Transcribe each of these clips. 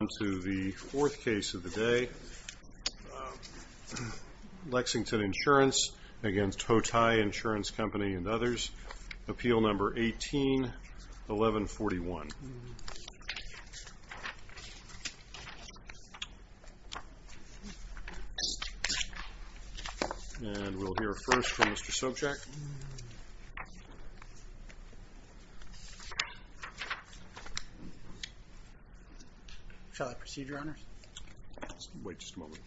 Onto the fourth case of the day, Lexington Insurance against Hotai Insurance Company and others. Appeal number 18-1141. And we'll hear first from Mr. Sobchak. Shall I proceed, Your Honors? Wait just a moment.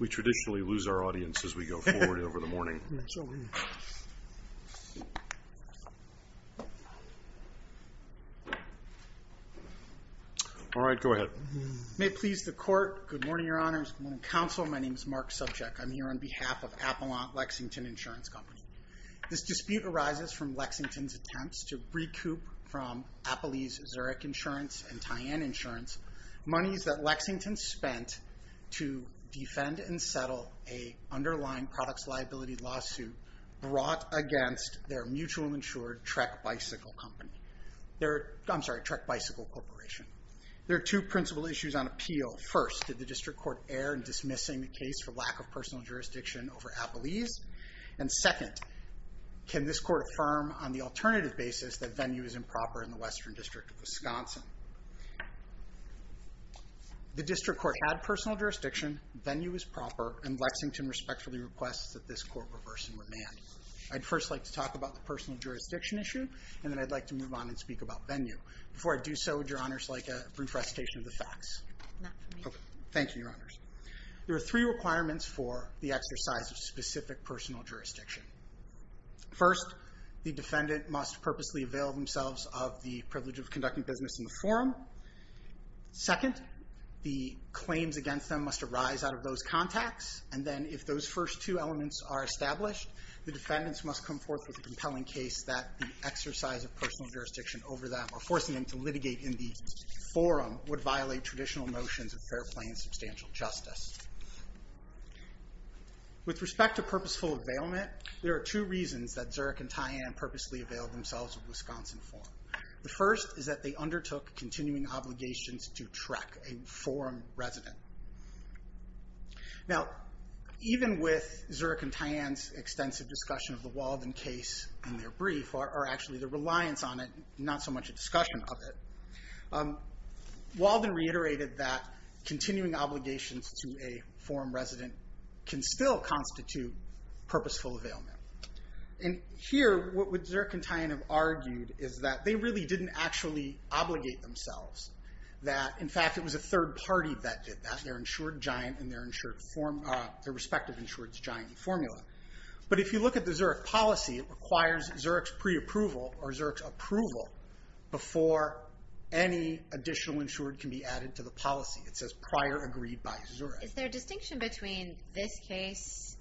We traditionally lose our audience as we go forward over the morning. All right, go ahead. May it please the Court. Good morning, Your Honors. Good morning, Counsel. My name is Mark Sobchak. I'm here on behalf of Appalachian Lexington Insurance Company. This dispute arises from Lexington's attempts to recoup from Appalachian Zurich Insurance and Tyann Insurance monies that Lexington spent to defend and settle an underlying products liability lawsuit brought against their mutual insured Trek Bicycle Corporation. There are two principal issues on appeal. First, did the District Court err in dismissing the case for lack of personal jurisdiction over Appalachian? And second, can this Court affirm on the alternative basis that venue is improper in the Western District of Wisconsin? The District Court had personal jurisdiction, venue is proper, and Lexington respectfully requests that this Court reverse and remand. I'd first like to talk about the personal jurisdiction issue, and then I'd like to move on and speak about venue. Before I do so, would Your Honors like a brief recitation of the facts? Not for me. Thank you, Your Honors. There are three requirements for the exercise of specific personal jurisdiction. First, the defendant must purposely avail themselves of the privilege of conducting business in the forum. Second, the claims against them must arise out of those contacts, and then if those first two elements are established, the defendants must come forth with a compelling case that the exercise of personal jurisdiction over them or forcing them to litigate in the forum would violate traditional notions of fair play and substantial justice. With respect to purposeful availment, there are two reasons that Zurich and Tyann purposely availed themselves of Wisconsin forum. The first is that they undertook continuing obligations to Trek, a forum resident. Now, even with Zurich and Tyann's extensive discussion of the Walden case in their brief, or actually their reliance on it, not so much a discussion of it, Walden reiterated that continuing obligations to a forum resident can still constitute purposeful availment. And here, what Zurich and Tyann have argued is that they really didn't actually obligate themselves. In fact, it was a third party that did that, their insured giant and their respective insured's giant formula. But if you look at the Zurich policy, it requires Zurich's pre-approval or Zurich's approval before any additional insured can be added to the policy. It says prior agreed by Zurich. Is there a distinction between this case,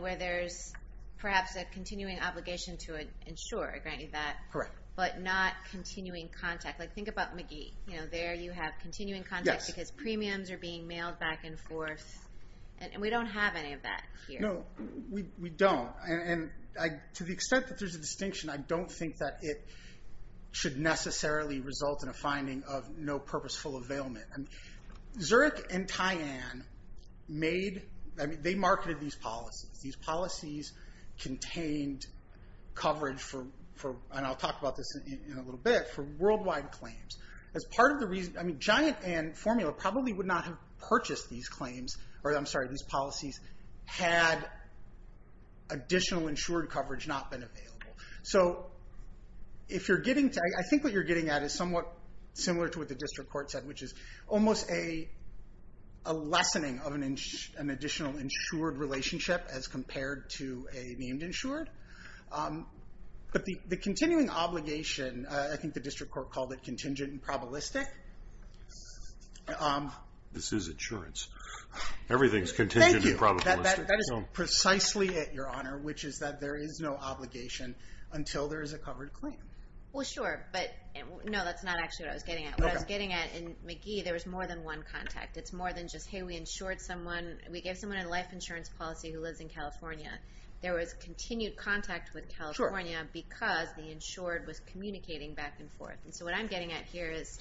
where there's perhaps a continuing obligation to an insurer, I grant you that, but not continuing contact? Think about McGee. There you have continuing contact because premiums are being mailed back and forth. And we don't have any of that here. No, we don't. And to the extent that there's a distinction, I don't think that it should necessarily result in a finding of no purposeful availment. Zurich and Tyann marketed these policies. These policies contained coverage for, and I'll talk about this in a little bit, for worldwide claims. As part of the reason, I mean, giant and formula probably would not have purchased these claims, or I'm sorry, these policies had additional insured coverage not been available. So if you're getting to, I think what you're getting at is somewhat similar to what the district court said, which is almost a lessening of an additional insured relationship as compared to a named insured. But the continuing obligation, I think the district court called it contingent and probabilistic. This is insurance. Everything's contingent and probabilistic. Thank you. That is precisely it, Your Honor, which is that there is no obligation until there is a covered claim. Well, sure, but no, that's not actually what I was getting at. In McGee, there was more than one contact. It's more than just, hey, we insured someone. We gave someone a life insurance policy who lives in California. There was continued contact with California because the insured was communicating back and forth. And so what I'm getting at here is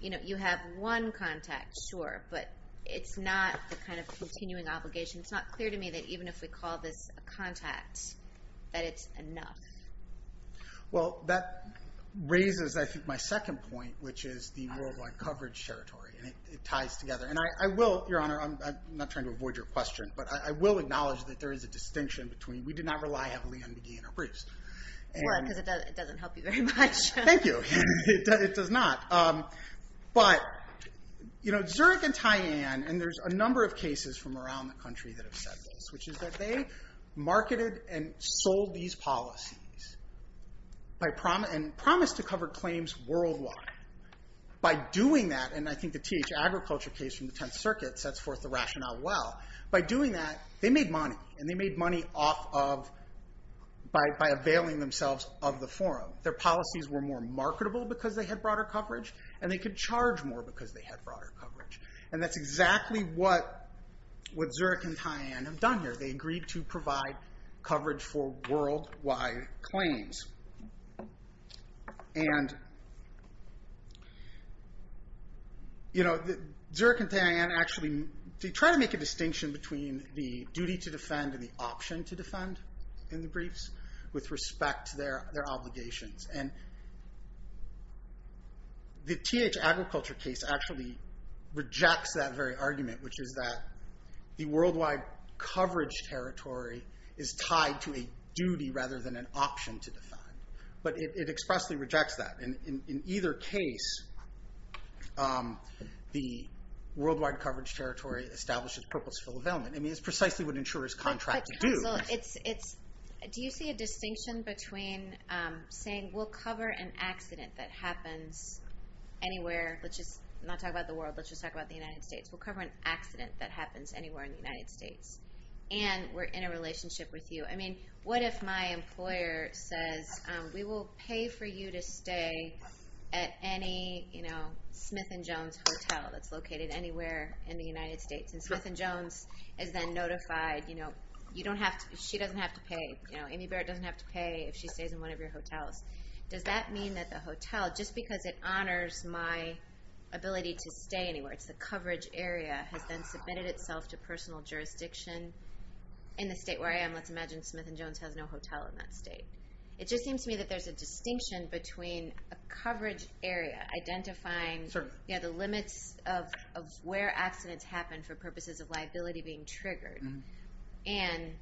you have one contact, sure, but it's not the kind of continuing obligation. It's not clear to me that even if we call this a contact, that it's enough. Well, that raises, I think, my second point, which is the worldwide coverage territory, and it ties together. And I will, Your Honor, I'm not trying to avoid your question, but I will acknowledge that there is a distinction between we did not rely heavily on McGee and Herbreest. Right, because it doesn't help you very much. Thank you. It does not. But, you know, Zurich and Tyann, and there's a number of cases from around the country that have said this, which is that they marketed and sold these policies and promised to cover claims worldwide. By doing that, and I think the THAgriculture case from the Tenth Circuit sets forth the rationale well. By doing that, they made money, and they made money by availing themselves of the forum. Their policies were more marketable because they had broader coverage, and they could charge more because they had broader coverage. And that's exactly what Zurich and Tyann have done here. They agreed to provide coverage for worldwide claims. And, you know, Zurich and Tyann actually try to make a distinction between the duty to defend and the option to defend in the briefs with respect to their obligations. And the THAgriculture case actually rejects that very argument, which is that the worldwide coverage territory is tied to a duty rather than an option to defend. But it expressly rejects that. In either case, the worldwide coverage territory establishes purposeful availment. I mean, it's precisely what insurers contract to do. Do you see a distinction between saying, we'll cover an accident that happens anywhere, let's just not talk about the world, let's just talk about the United States. We'll cover an accident that happens anywhere in the United States, and we're in a relationship with you. I mean, what if my employer says, we will pay for you to stay at any, you know, Smith & Jones hotel that's located anywhere in the United States. And Smith & Jones is then notified, you know, that she doesn't have to pay, you know, Amy Barrett doesn't have to pay if she stays in one of your hotels. Does that mean that the hotel, just because it honors my ability to stay anywhere, it's the coverage area, has then submitted itself to personal jurisdiction in the state where I am. Let's imagine Smith & Jones has no hotel in that state. It just seems to me that there's a distinction between a coverage area identifying, you know, the limits of where accidents happen for purposes of liability being triggered and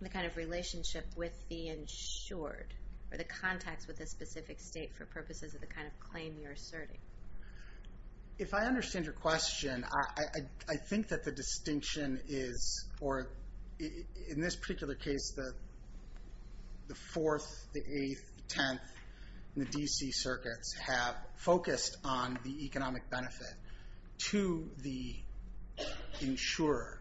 the kind of relationship with the insured, or the contacts with a specific state for purposes of the kind of claim you're asserting. If I understand your question, I think that the distinction is, or in this particular case, the 4th, the 8th, the 10th, and the D.C. circuits have focused on the economic benefit to the insurer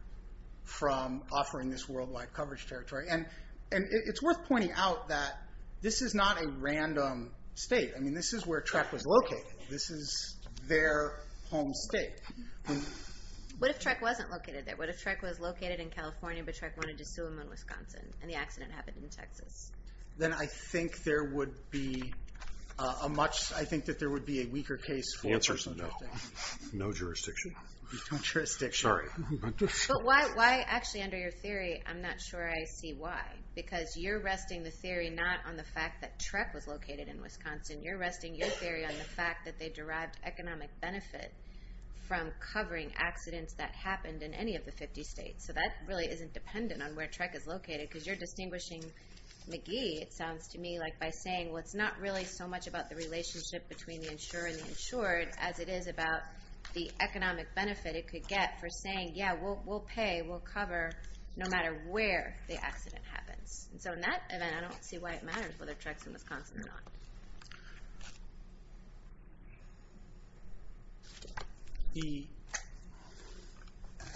from offering this worldwide coverage territory. And it's worth pointing out that this is not a random state. I mean, this is where Trek was located. This is their home state. What if Trek wasn't located there? What if Trek was located in California, but Trek wanted to sue them in Wisconsin, and the accident happened in Texas? Then I think there would be a much, I think that there would be a weaker case. The answer is no. No jurisdiction. No jurisdiction. Sorry. But why, actually, under your theory, I'm not sure I see why. Because you're resting the theory not on the fact that Trek was located in Wisconsin. You're resting your theory on the fact that they derived economic benefit from covering accidents that happened in any of the 50 states. So that really isn't dependent on where Trek is located, because you're distinguishing McGee, it sounds to me, like by saying, well, it's not really so much about the relationship between the insurer and the insured as it is about the economic benefit it could get for saying, yeah, we'll pay, we'll cover, no matter where the accident happens. So in that event, I don't see why it matters whether Trek's in Wisconsin or not.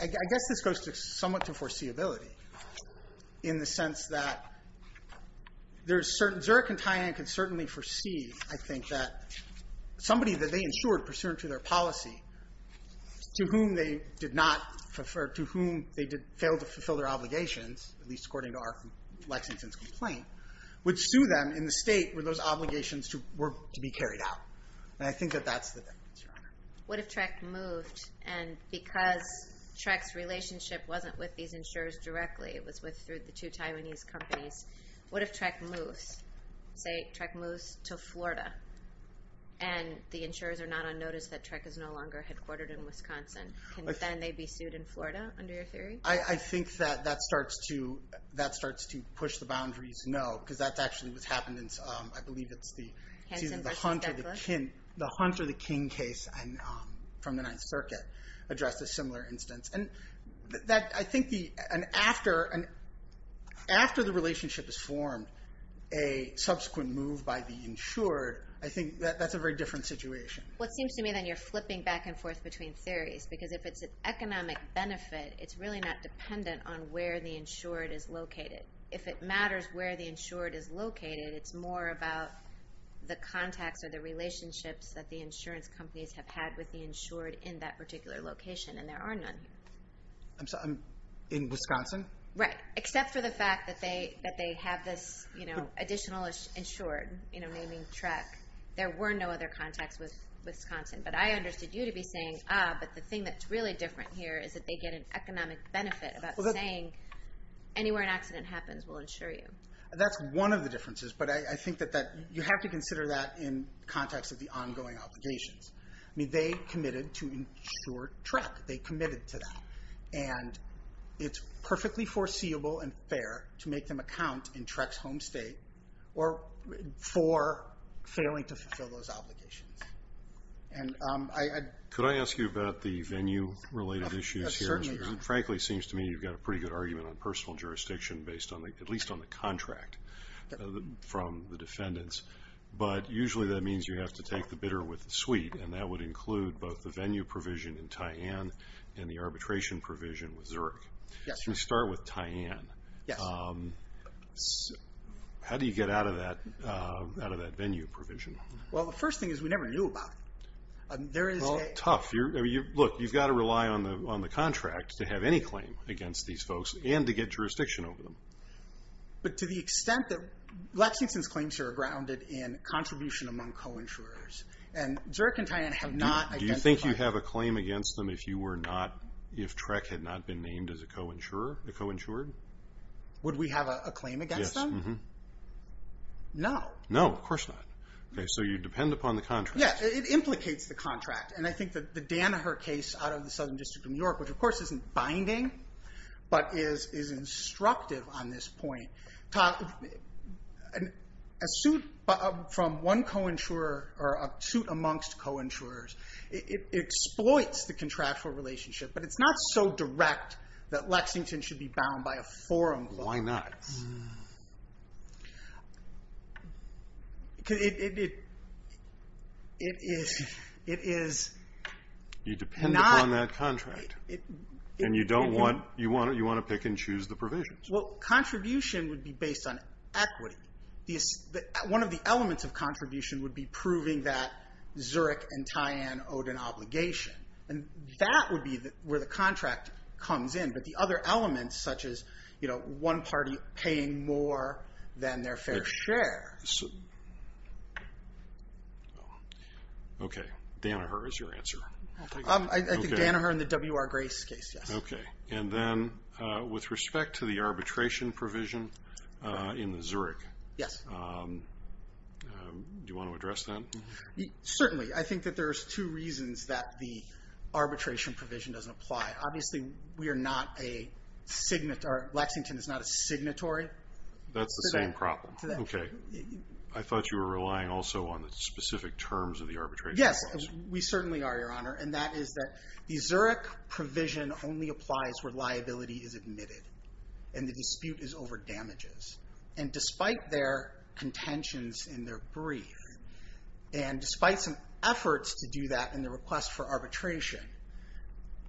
I guess this goes somewhat to foreseeability, in the sense that there's certain, Zurich and Tainan can certainly foresee, I think, that somebody that they insured pursuant to their policy, to whom they did not, to whom they failed to fulfill their obligations, at least according to R. Lexington's complaint, would sue them in the state where those obligations were to be carried out. And I think that that's the difference, Your Honor. What if Trek moved? And because Trek's relationship wasn't with these insurers directly, it was through the two Taiwanese companies, what if Trek moves, say, Trek moves to Florida, and the insurers are not on notice that Trek is no longer headquartered in Wisconsin? Can then they be sued in Florida, under your theory? I think that that starts to push the boundaries, no, because that's actually what's happened in, I believe it's the Hunter v. King case from the Ninth Circuit addressed a similar instance. And I think after the relationship is formed, a subsequent move by the insured, I think that's a very different situation. Well, it seems to me that you're flipping back and forth between theories, because if it's an economic benefit, it's really not dependent on where the insured is located. If it matters where the insured is located, it's more about the contacts or the relationships that the insurance companies have had with the insured in that particular location, and there are none here. I'm sorry, in Wisconsin? Right, except for the fact that they have this additional insured, naming Trek, there were no other contacts with Wisconsin. But I understood you to be saying, ah, but the thing that's really different here is that they get an economic benefit about saying, anywhere an accident happens, we'll insure you. That's one of the differences, but I think that you have to consider that in context of the ongoing obligations. I mean, they committed to insure Trek. They committed to that. And it's perfectly foreseeable and fair to make them account in Trek's home state for failing to fulfill those obligations. And I... Could I ask you about the venue-related issues here? Certainly. Because it frankly seems to me you've got a pretty good argument on personal jurisdiction based on, at least on the contract from the defendants. But usually that means you have to take the bidder with the suite, and that would include both the venue provision in Tyann and the arbitration provision with Zurich. Yes. Let's start with Tyann. Yes. How do you get out of that venue provision? Well, the first thing is we never knew about it. There is a... Well, tough. Look, you've got to rely on the contract to have any claim against these folks and to get jurisdiction over them. But to the extent that Lexington's claims are grounded in contribution among co-insurers, and Zurich and Tyann have not identified... Do you think you have a claim against them if you were not, if Trek had not been named as a co-insured? Would we have a claim against them? Yes. No. No, of course not. Okay. So you depend upon the contract. Yes. It implicates the contract. And I think that the Danaher case out of the Southern District of New York, which of course isn't binding but is instructive on this point, a suit from one co-insurer or a suit amongst co-insurers, it exploits the contractual relationship, but it's not so direct that Lexington should be bound by a forum. Why not? Because it is not... You depend upon that contract. And you want to pick and choose the provisions. Well, contribution would be based on equity. One of the elements of contribution would be proving that Zurich and Tyann owed an obligation. And that would be where the contract comes in. But the other elements, such as, you know, one party paying more than their fair share. Okay. Danaher is your answer. I think Danaher and the W.R. Grace case, yes. Okay. And then with respect to the arbitration provision in Zurich. Yes. Do you want to address that? Certainly. I think that there's two reasons that the arbitration provision doesn't apply. Obviously, Lexington is not a signatory. That's the same problem. Okay. I thought you were relying also on the specific terms of the arbitration clause. Yes. We certainly are, Your Honor. And that is that the Zurich provision only applies where liability is admitted. And the dispute is over damages. And despite their contentions in their brief, and despite some efforts to do that in the request for arbitration,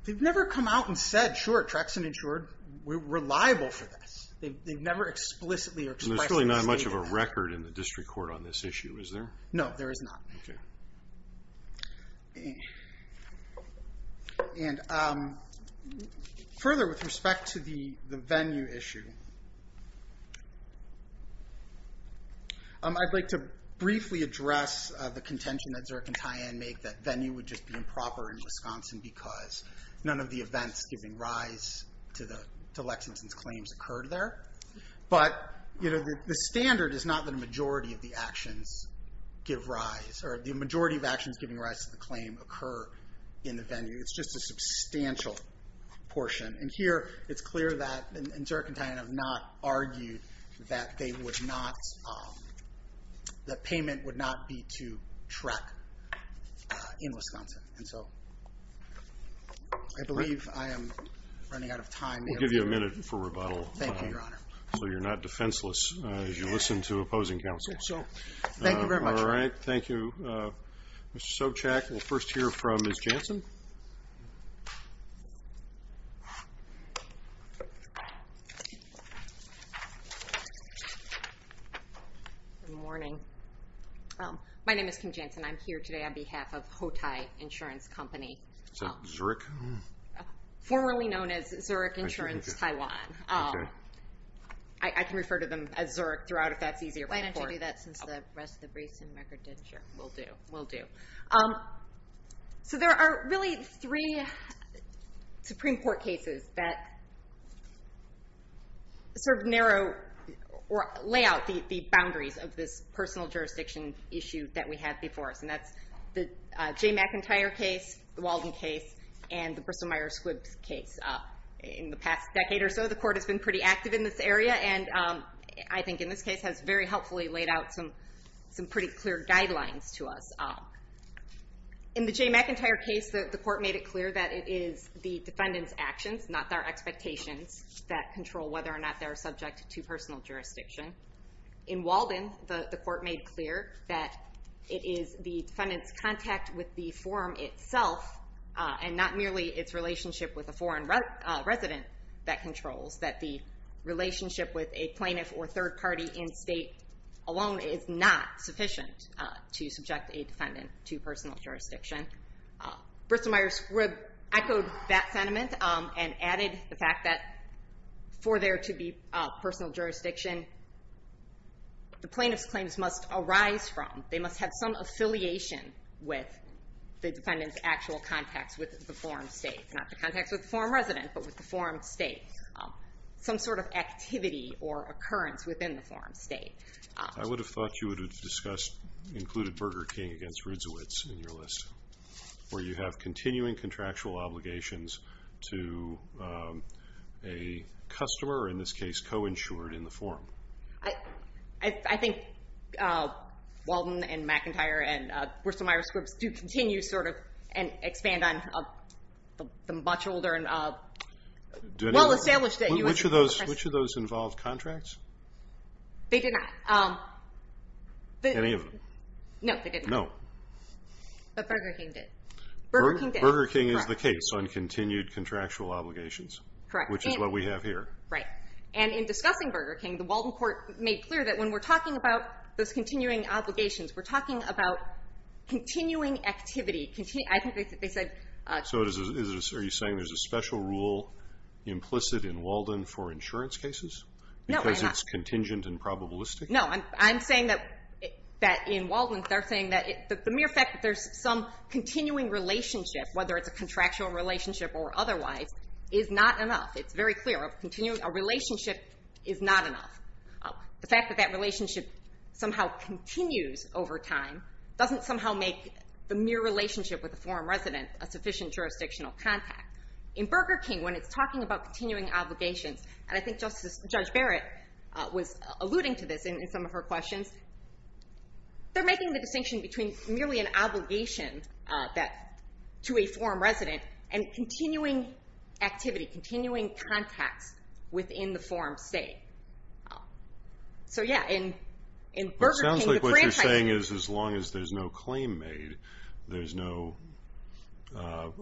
they've never come out and said, sure, Trexan insured, we're reliable for this. They've never explicitly or expressly stated that. And there's really not much of a record in the district court on this issue, is there? No, there is not. Okay. And further, with respect to the venue issue, I'd like to briefly address the contention that Zurich and Tyann make that venue would just be improper in Wisconsin because none of the events giving rise to Lexington's claims occurred there. But the standard is not that a majority of the actions give rise, or the majority of actions giving rise to the claim occur in the venue. It's just a substantial portion. And here, it's clear that Zurich and Tyann have not argued that payment would not be to Trex in Wisconsin. And so I believe I am running out of time. We'll give you a minute for rebuttal. Thank you, Your Honor. So you're not defenseless as you listen to opposing counsel. So thank you very much. All right. Thank you, Mr. Sobchak. We'll first hear from Ms. Jansen. Good morning. My name is Kim Jansen. I'm here today on behalf of Hotai Insurance Company. Is that Zurich? Formerly known as Zurich Insurance Taiwan. I can refer to them as Zurich throughout if that's easier. Why don't you do that since the rest of the briefs and record did? Sure. Will do. So there are really three Supreme Court cases that sort of narrow or lay out the boundaries of this personal jurisdiction issue that we have before us. And that's the Jay McIntyre case, the Walden case, and the Bristol-Myers-Squibb case. In the past decade or so, the court has been pretty active in this area, and I think in this case has very helpfully laid out some pretty clear guidelines to us. In the Jay McIntyre case, the court made it clear that it is the defendant's actions, not their expectations, that control whether or not they're subject to personal jurisdiction. In Walden, the court made clear that it is the defendant's contact with the forum itself and not merely its relationship with a foreign resident that controls, that the relationship with a plaintiff or third party in state alone is not sufficient to subject a defendant to personal jurisdiction. Bristol-Myers-Squibb echoed that sentiment and added the fact that for there to be personal jurisdiction, the plaintiff's claims must arise from, they must have some affiliation with the defendant's actual contacts with the forum state. Not the contacts with the forum resident, but with the forum state. Some sort of activity or occurrence within the forum state. I would have thought you would have discussed, included Burger King against Rudziewicz in your list, where you have continuing contractual obligations to a customer, or in this case, co-insured in the forum. I think Walden and McIntyre and Bristol-Myers-Squibb do continue sort of and expand on the much older and well-established. Which of those involved contracts? They did not. Any of them? No, they did not. No. But Burger King did. Burger King did. Burger King is the case on continued contractual obligations. Correct. Which is what we have here. Right. And in discussing Burger King, the Walden court made clear that when we're talking about those continuing obligations, we're talking about continuing activity. I think they said. So are you saying there's a special rule implicit in Walden for insurance cases? No, I'm not. Because it's contingent and probabilistic? No. I'm saying that in Walden, they're saying that the mere fact that there's some continuing relationship, whether it's a contractual relationship or otherwise, is not enough. It's very clear. A relationship is not enough. The fact that that relationship somehow continues over time doesn't somehow make the mere relationship with a forum resident a sufficient jurisdictional contact. In Burger King, when it's talking about continuing obligations, and I think Judge Barrett was alluding to this in some of her questions, they're making the distinction between merely an obligation to a forum resident and continuing activity, continuing contacts within the forum state. So, yeah. In Burger King. It sounds like what you're saying is as long as there's no claim made, there's no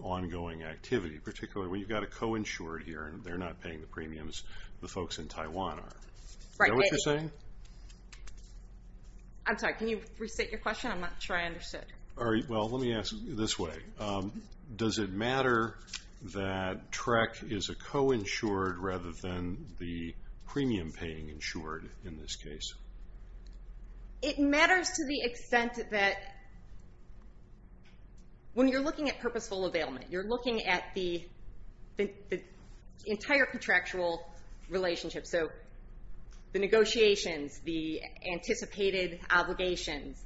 ongoing activity, particularly when you've got a co-insured here and they're not paying the premiums the folks in Taiwan are. Is that what you're saying? I'm sorry. Can you restate your question? I'm not sure I understood. Well, let me ask this way. Does it matter that TREC is a co-insured rather than the premium paying insured in this case? It matters to the extent that when you're looking at purposeful availment, you're looking at the entire contractual relationship. So the negotiations, the anticipated obligations,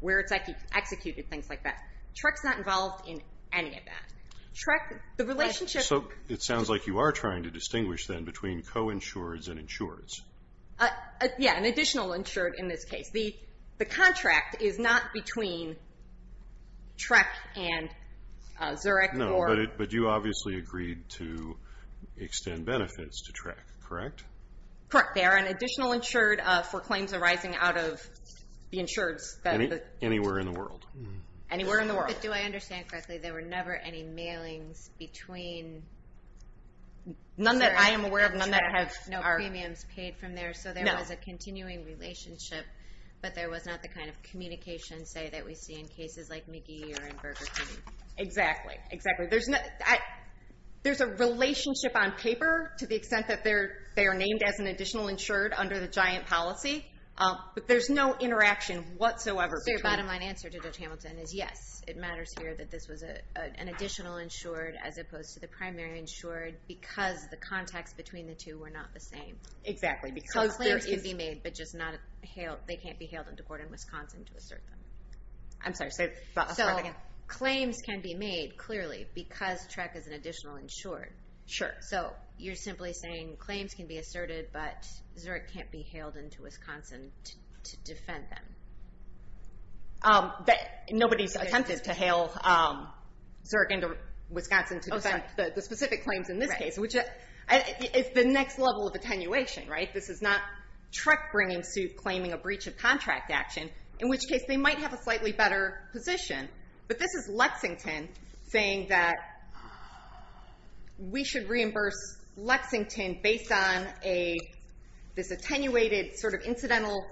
where it's executed, things like that. TREC's not involved in any of that. So it sounds like you are trying to distinguish, then, between co-insureds and insureds. Yeah, an additional insured in this case. The contract is not between TREC and Zurich. No, but you obviously agreed to extend benefits to TREC, correct? Correct. They are an additional insured for claims arising out of the insureds. Anywhere in the world. Anywhere in the world. Do I understand correctly? There were never any mailings between Zurich and TREC? None that I am aware of. None that have no premiums paid from there. So there was a continuing relationship, but there was not the kind of communication, say, that we see in cases like McGee or in Burger King. Exactly, exactly. There's a relationship on paper, to the extent that they are named as an additional insured under the giant policy, but there's no interaction whatsoever. So your bottom line answer to Judge Hamilton is, yes, it matters here that this was an additional insured as opposed to the primary insured because the contacts between the two were not the same. Exactly. So claims can be made, but they can't be hailed into court in Wisconsin to assert them. I'm sorry, say that last part again. So claims can be made, clearly, because TREC is an additional insured. Sure. So you're simply saying claims can be asserted, but Zurich can't be hailed into Wisconsin to defend them. Nobody's attempted to hail Zurich into Wisconsin to defend the specific claims in this case, which is the next level of attenuation, right? This is not TREC claiming a breach of contract action, in which case they might have a slightly better position. But this is Lexington saying that we should reimburse Lexington based on this attenuated sort of incidental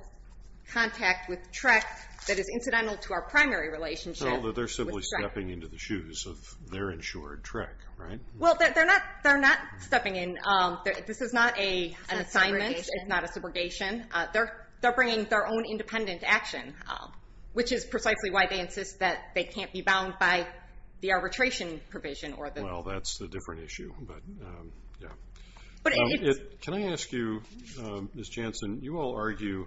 contact with TREC that is incidental to our primary relationship with TREC. So they're simply stepping into the shoes of their insured TREC, right? Well, they're not stepping in. This is not an assignment. It's not a subrogation. It's not a subrogation. They're bringing their own independent action, which is precisely why they insist that they can't be bound by the arbitration provision. Well, that's a different issue. Can I ask you, Ms. Jansen, you all argue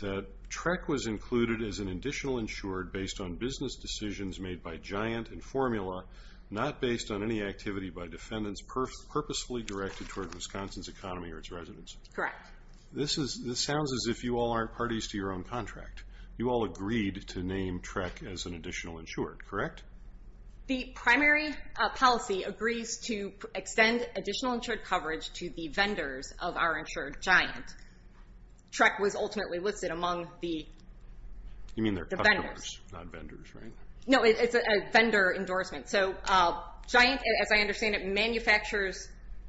that TREC was included as an additional insured based on business decisions made by Giant and Formula, not based on any activity by defendants purposefully directed toward Wisconsin's economy or its residents. Correct. This sounds as if you all aren't parties to your own contract. You all agreed to name TREC as an additional insured, correct? The primary policy agrees to extend additional insured coverage to the vendors of our insured Giant. TREC was ultimately listed among the vendors. You mean their customers, not vendors, right? No, it's a vendor endorsement. So Giant, as I understand it, manufactures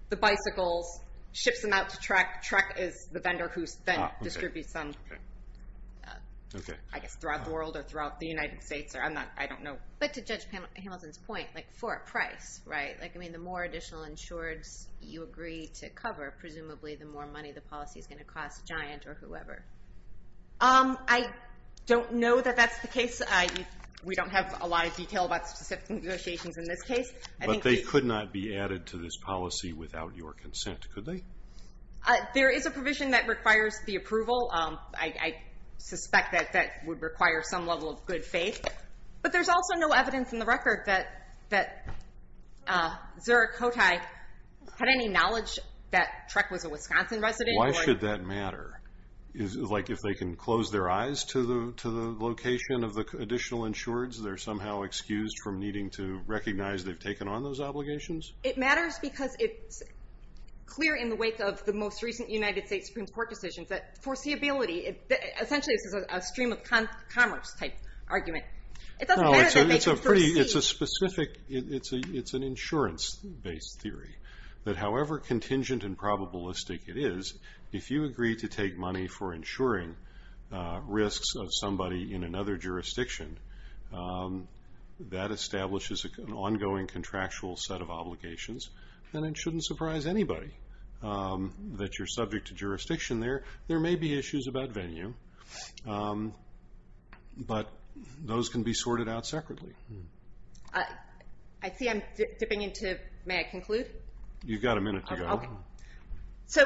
the bicycles, ships them out to TREC. TREC is the vendor who then distributes them, I guess, throughout the world or throughout the United States. I don't know. But to Judge Hamilton's point, for a price, right? The more additional insureds you agree to cover, presumably the more money the policy is going to cost Giant or whoever. I don't know that that's the case. We don't have a lot of detail about specific negotiations in this case. But they could not be added to this policy without your consent, could they? There is a provision that requires the approval. I suspect that that would require some level of good faith. But there's also no evidence in the record that Zurich Hotai had any knowledge that TREC was a Wisconsin resident. Why should that matter? Like if they can close their eyes to the location of the additional insureds, they're somehow excused from needing to recognize they've taken on those obligations? It matters because it's clear in the wake of the most recent United States Supreme Court decision that foreseeability, essentially this is a stream of commerce type argument. It doesn't matter that they can foresee. It's a specific, it's an insurance-based theory, that however contingent and probabilistic it is, if you agree to take money for insuring risks of somebody in another jurisdiction, that establishes an ongoing contractual set of obligations. And it shouldn't surprise anybody that you're subject to jurisdiction there. There may be issues about venue, but those can be sorted out separately. I see I'm dipping into, may I conclude? You've got a minute to go. Okay. So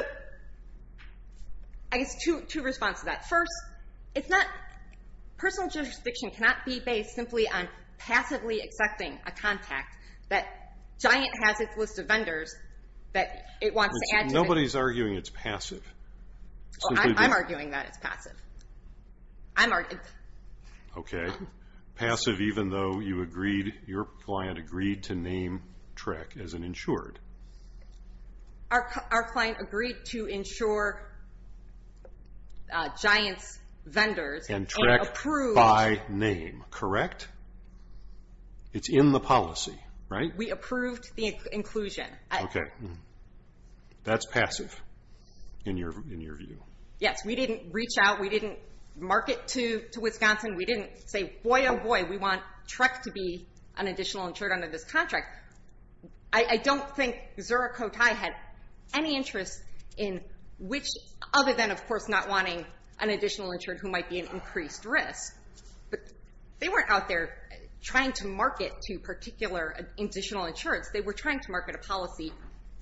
I guess two responses to that. First, personal jurisdiction cannot be based simply on passively accepting a contact that Giant has its list of vendors that it wants to add to. Nobody's arguing it's passive. I'm arguing that it's passive. Okay. Passive even though you agreed, your client agreed to name TREC as an insured. Our client agreed to insure Giant's vendors. And TREC by name, correct? It's in the policy, right? We approved the inclusion. Okay. That's passive in your view? Yes. We didn't reach out. We didn't mark it to Wisconsin. We didn't say, boy, oh, boy, we want TREC to be an additional insured under this contract. I don't think Zerocotai had any interest in which other than, of course, not wanting an additional insured who might be at increased risk. But they weren't out there trying to market to particular additional insureds. They were trying to market a policy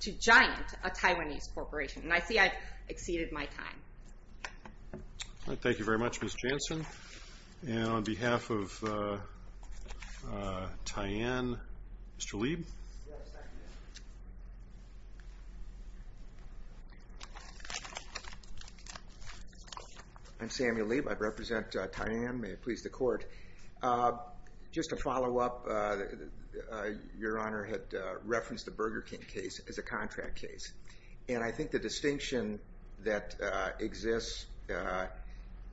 to Giant, a Taiwanese corporation. And I see I've exceeded my time. All right. Thank you very much, Ms. Jansen. And on behalf of Tyann, Mr. Lieb. Yes, thank you. I'm Samuel Lieb. I represent Tyann. May it please the Court. Just to follow up, Your Honor had referenced the Burger King case as a contract case. And I think the distinction that exists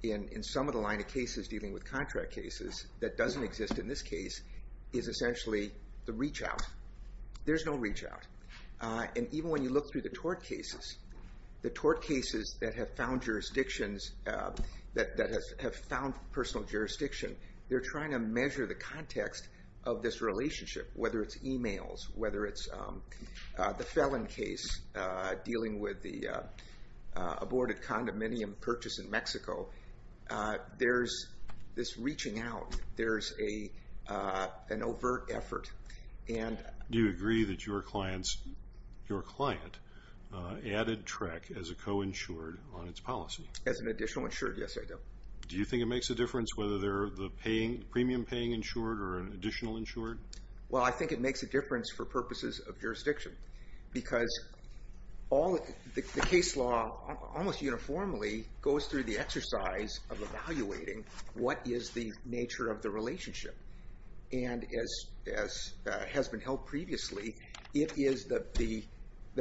in some of the line of cases dealing with contract cases that doesn't exist in this case is essentially the reach out. There's no reach out. And even when you look through the tort cases, the tort cases that have found jurisdictions, that have found personal jurisdiction, they're trying to measure the context of this relationship, whether it's e-mails, whether it's the felon case dealing with the aborted condominium purchase in Mexico. There's this reaching out. There's an overt effort. Do you agree that your client added TREC as a coinsured on its policy? As an additional insured, yes, I do. Do you think it makes a difference whether they're the premium paying insured or an additional insured? Well, I think it makes a difference for purposes of jurisdiction. Because the case law almost uniformly goes through the exercise of evaluating what is the nature of the relationship. And as has been held previously, the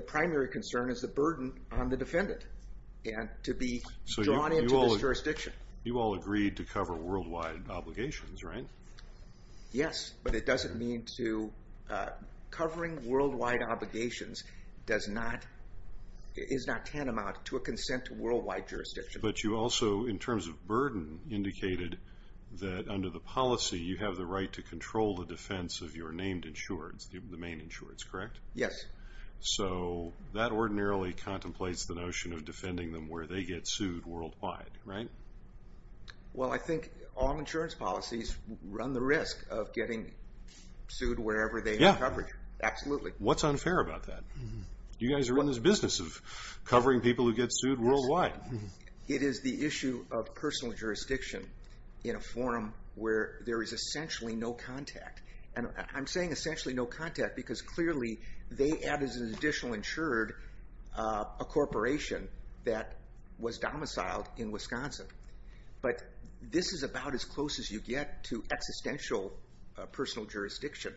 primary concern is the burden on the defendant to be drawn into this jurisdiction. You all agreed to cover worldwide obligations, right? Yes, but it doesn't mean to covering worldwide obligations is not tantamount to a consent to worldwide jurisdiction. But you also, in terms of burden, indicated that under the policy, you have the right to control the defense of your named insureds, the main insureds, correct? Yes. So that ordinarily contemplates the notion of defending them where they get sued worldwide, right? Well, I think all insurance policies run the risk of getting sued wherever they have coverage. Yeah. Absolutely. What's unfair about that? You guys are in this business of covering people who get sued worldwide. It is the issue of personal jurisdiction in a forum where there is essentially no contact. And I'm saying essentially no contact because clearly they add as an additional insured a corporation that was domiciled in Wisconsin. But this is about as close as you get to existential personal jurisdiction.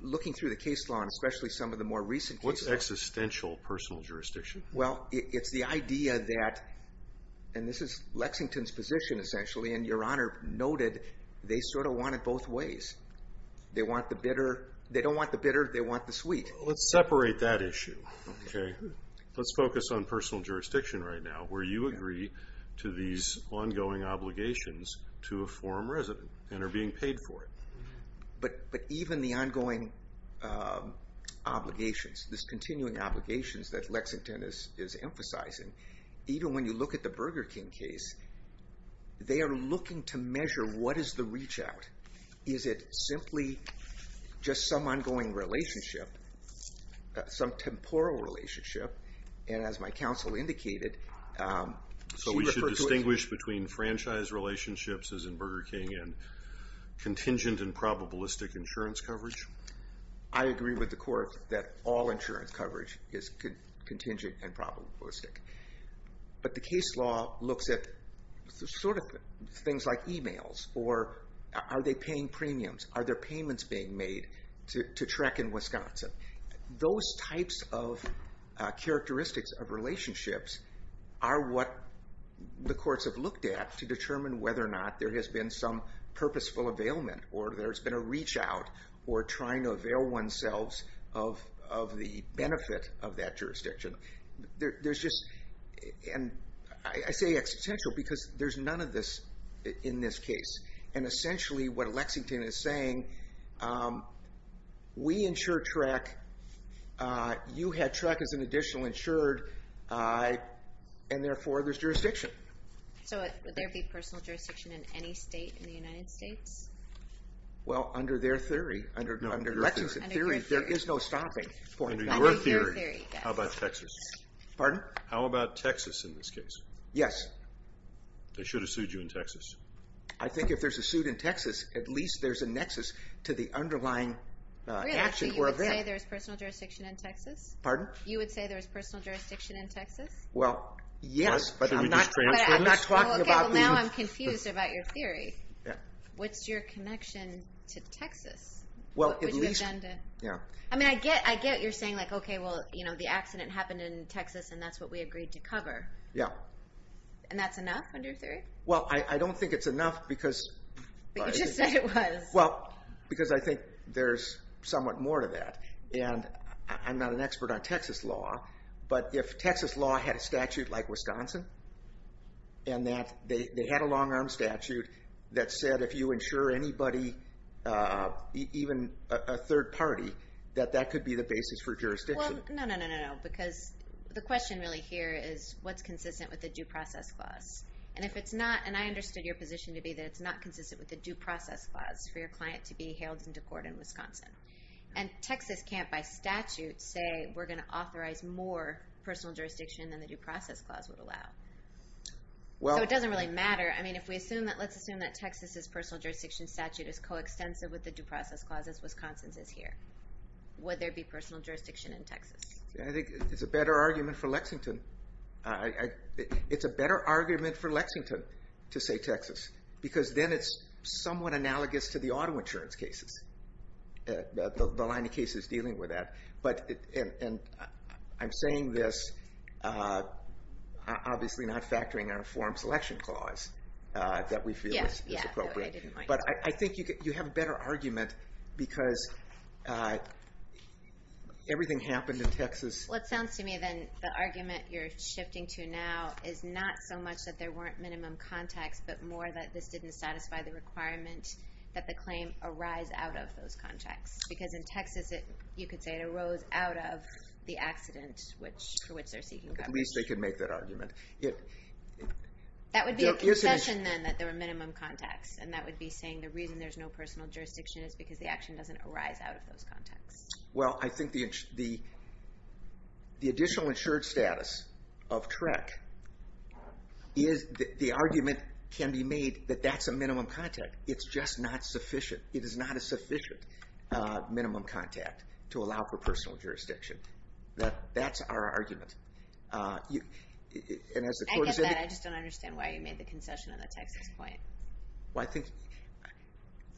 Looking through the case law and especially some of the more recent cases. What's existential personal jurisdiction? Well, it's the idea that, and this is Lexington's position essentially, and Your Honor noted they sort of want it both ways. They want the bitter. They don't want the bitter. They want the sweet. Let's separate that issue, okay? Let's focus on personal jurisdiction right now where you agree to these ongoing obligations to a forum resident and are being paid for it. But even the ongoing obligations, these continuing obligations that Lexington is emphasizing, even when you look at the Burger King case, they are looking to measure what is the reach out. Is it simply just some ongoing relationship, some temporal relationship? And as my counsel indicated, she referred to it. So we should distinguish between franchise relationships as in Burger King and contingent and probabilistic insurance coverage? I agree with the court that all insurance coverage is contingent and probabilistic. But the case law looks at sort of things like e-mails or are they paying premiums? Are there payments being made to TREC in Wisconsin? Those types of characteristics of relationships are what the courts have looked at to determine whether or not there has been some purposeful availment or there's been a reach out or trying to avail oneselves of the benefit of that jurisdiction. There's just, and I say existential because there's none of this in this case. And essentially what Lexington is saying, we insure TREC, you had TREC as an additional insured, and therefore there's jurisdiction. So would there be personal jurisdiction in any state in the United States? Well, under their theory, under Lexington's theory, there is no stopping. Under your theory, how about Texas? Pardon? How about Texas in this case? Yes. They should have sued you in Texas. I think if there's a suit in Texas, at least there's a nexus to the underlying action or event. Really, so you would say there's personal jurisdiction in Texas? Pardon? You would say there's personal jurisdiction in Texas? Well, yes, but I'm not talking about the- Okay, well now I'm confused about your theory. Yeah. What's your connection to Texas? Well, at least- What would you have done to- Yeah. I mean, I get you're saying like, okay, well, the accident happened in Texas and that's what we agreed to cover. Yeah. And that's enough under your theory? Well, I don't think it's enough because- But you just said it was. Well, because I think there's somewhat more to that. And I'm not an expert on Texas law, but if Texas law had a statute like Wisconsin, and that they had a long-arm statute that said if you insure anybody, even a third party, that that could be the basis for jurisdiction. Well, no, no, no, no, because the question really here is what's consistent with the due process clause? And if it's not, and I understood your position to be that it's not consistent with the due process clause for your client to be hailed into court in Wisconsin. And Texas can't, by statute, say we're going to authorize more personal jurisdiction than the due process clause would allow. Well- So it doesn't really matter. I mean, if we assume that, let's assume that Texas' personal jurisdiction statute is coextensive with the due process clause as Wisconsin's is here. Would there be personal jurisdiction in Texas? I think it's a better argument for Lexington. It's a better argument for Lexington to say Texas, because then it's somewhat analogous to the auto insurance cases. The line of cases dealing with that. And I'm saying this, obviously, not factoring our form selection clause that we feel is appropriate. Yes, yes, I didn't mind. But I think you have a better argument because everything happened in Texas- Well, it sounds to me, then, the argument you're shifting to now is not so much that there weren't minimum contacts, but more that this didn't satisfy the requirement that the claim arise out of those contacts. Because in Texas, you could say it arose out of the accident for which they're seeking coverage. At least they could make that argument. That would be a concession, then, that there were minimum contacts. And that would be saying the reason there's no personal jurisdiction is because the action doesn't arise out of those contacts. Well, I think the additional insured status of TREC, the argument can be made that that's a minimum contact. It's just not sufficient. It is not a sufficient minimum contact to allow for personal jurisdiction. That's our argument. I get that, I just don't understand why you made the concession on the Texas point. Well, I think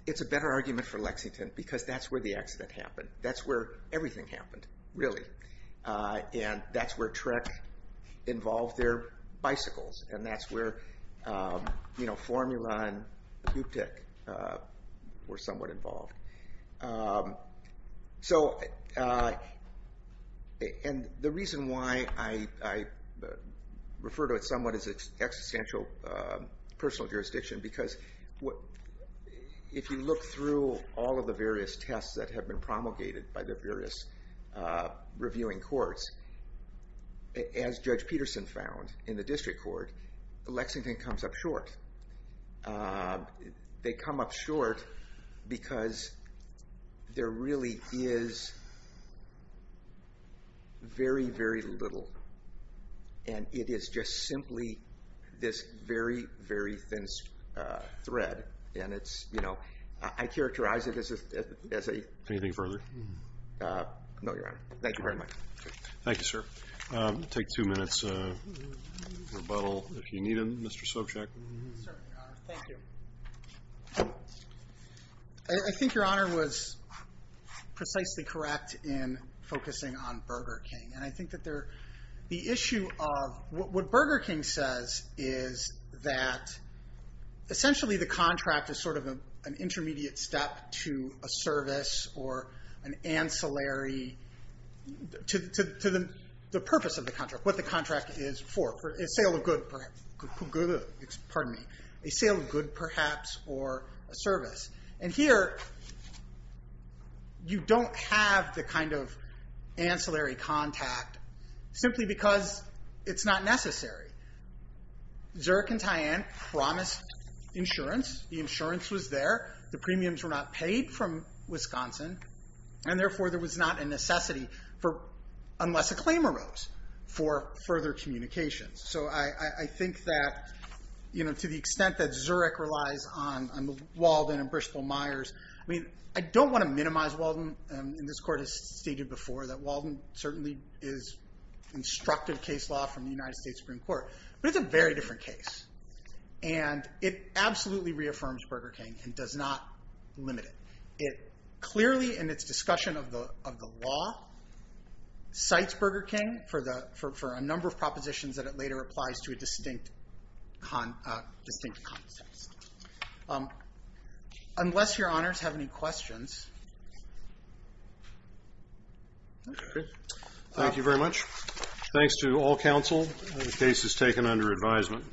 it's a better argument for Lexington because that's where the accident happened. That's where everything happened, really. And that's where TREC involved their bicycles. And that's where Formula and Buptyk were somewhat involved. And the reason why I refer to it somewhat as existential personal jurisdiction because if you look through all of the various tests that have been promulgated by the various reviewing courts, as Judge Peterson found in the district court, Lexington comes up short. They come up short because there really is very, very little. And it is just simply this very, very thin thread. And it's, you know, I characterize it as a... Anything further? No, Your Honor. Thank you very much. Thank you, sir. Take two minutes rebuttal if you need them, Mr. Sobchack. Certainly, Your Honor. Thank you. I think Your Honor was precisely correct in focusing on Burger King. And I think that the issue of what Burger King says is that essentially the contract is sort of an intermediate step to a service or an ancillary to the purpose of the contract, what the contract is for, a sale of good perhaps. Pardon me. A sale of good perhaps or a service. And here you don't have the kind of ancillary contact simply because it's not necessary. Zerk and Tyant promised insurance. The insurance was there. The premiums were not paid from Wisconsin. And therefore, there was not a necessity for, unless a claim arose, for further communications. So I think that, you know, to the extent that Zurich relies on Walden and Bristol Myers, I mean, I don't want to minimize Walden. And this Court has stated before that Walden certainly is instructive case law from the United States Supreme Court. But it's a very different case. And it absolutely reaffirms Burger King and does not limit it. It clearly, in its discussion of the law, cites Burger King for a number of propositions that it later applies to a distinct context. Unless Your Honors have any questions. Thank you very much. Thanks to all counsel. The case is taken under advisement.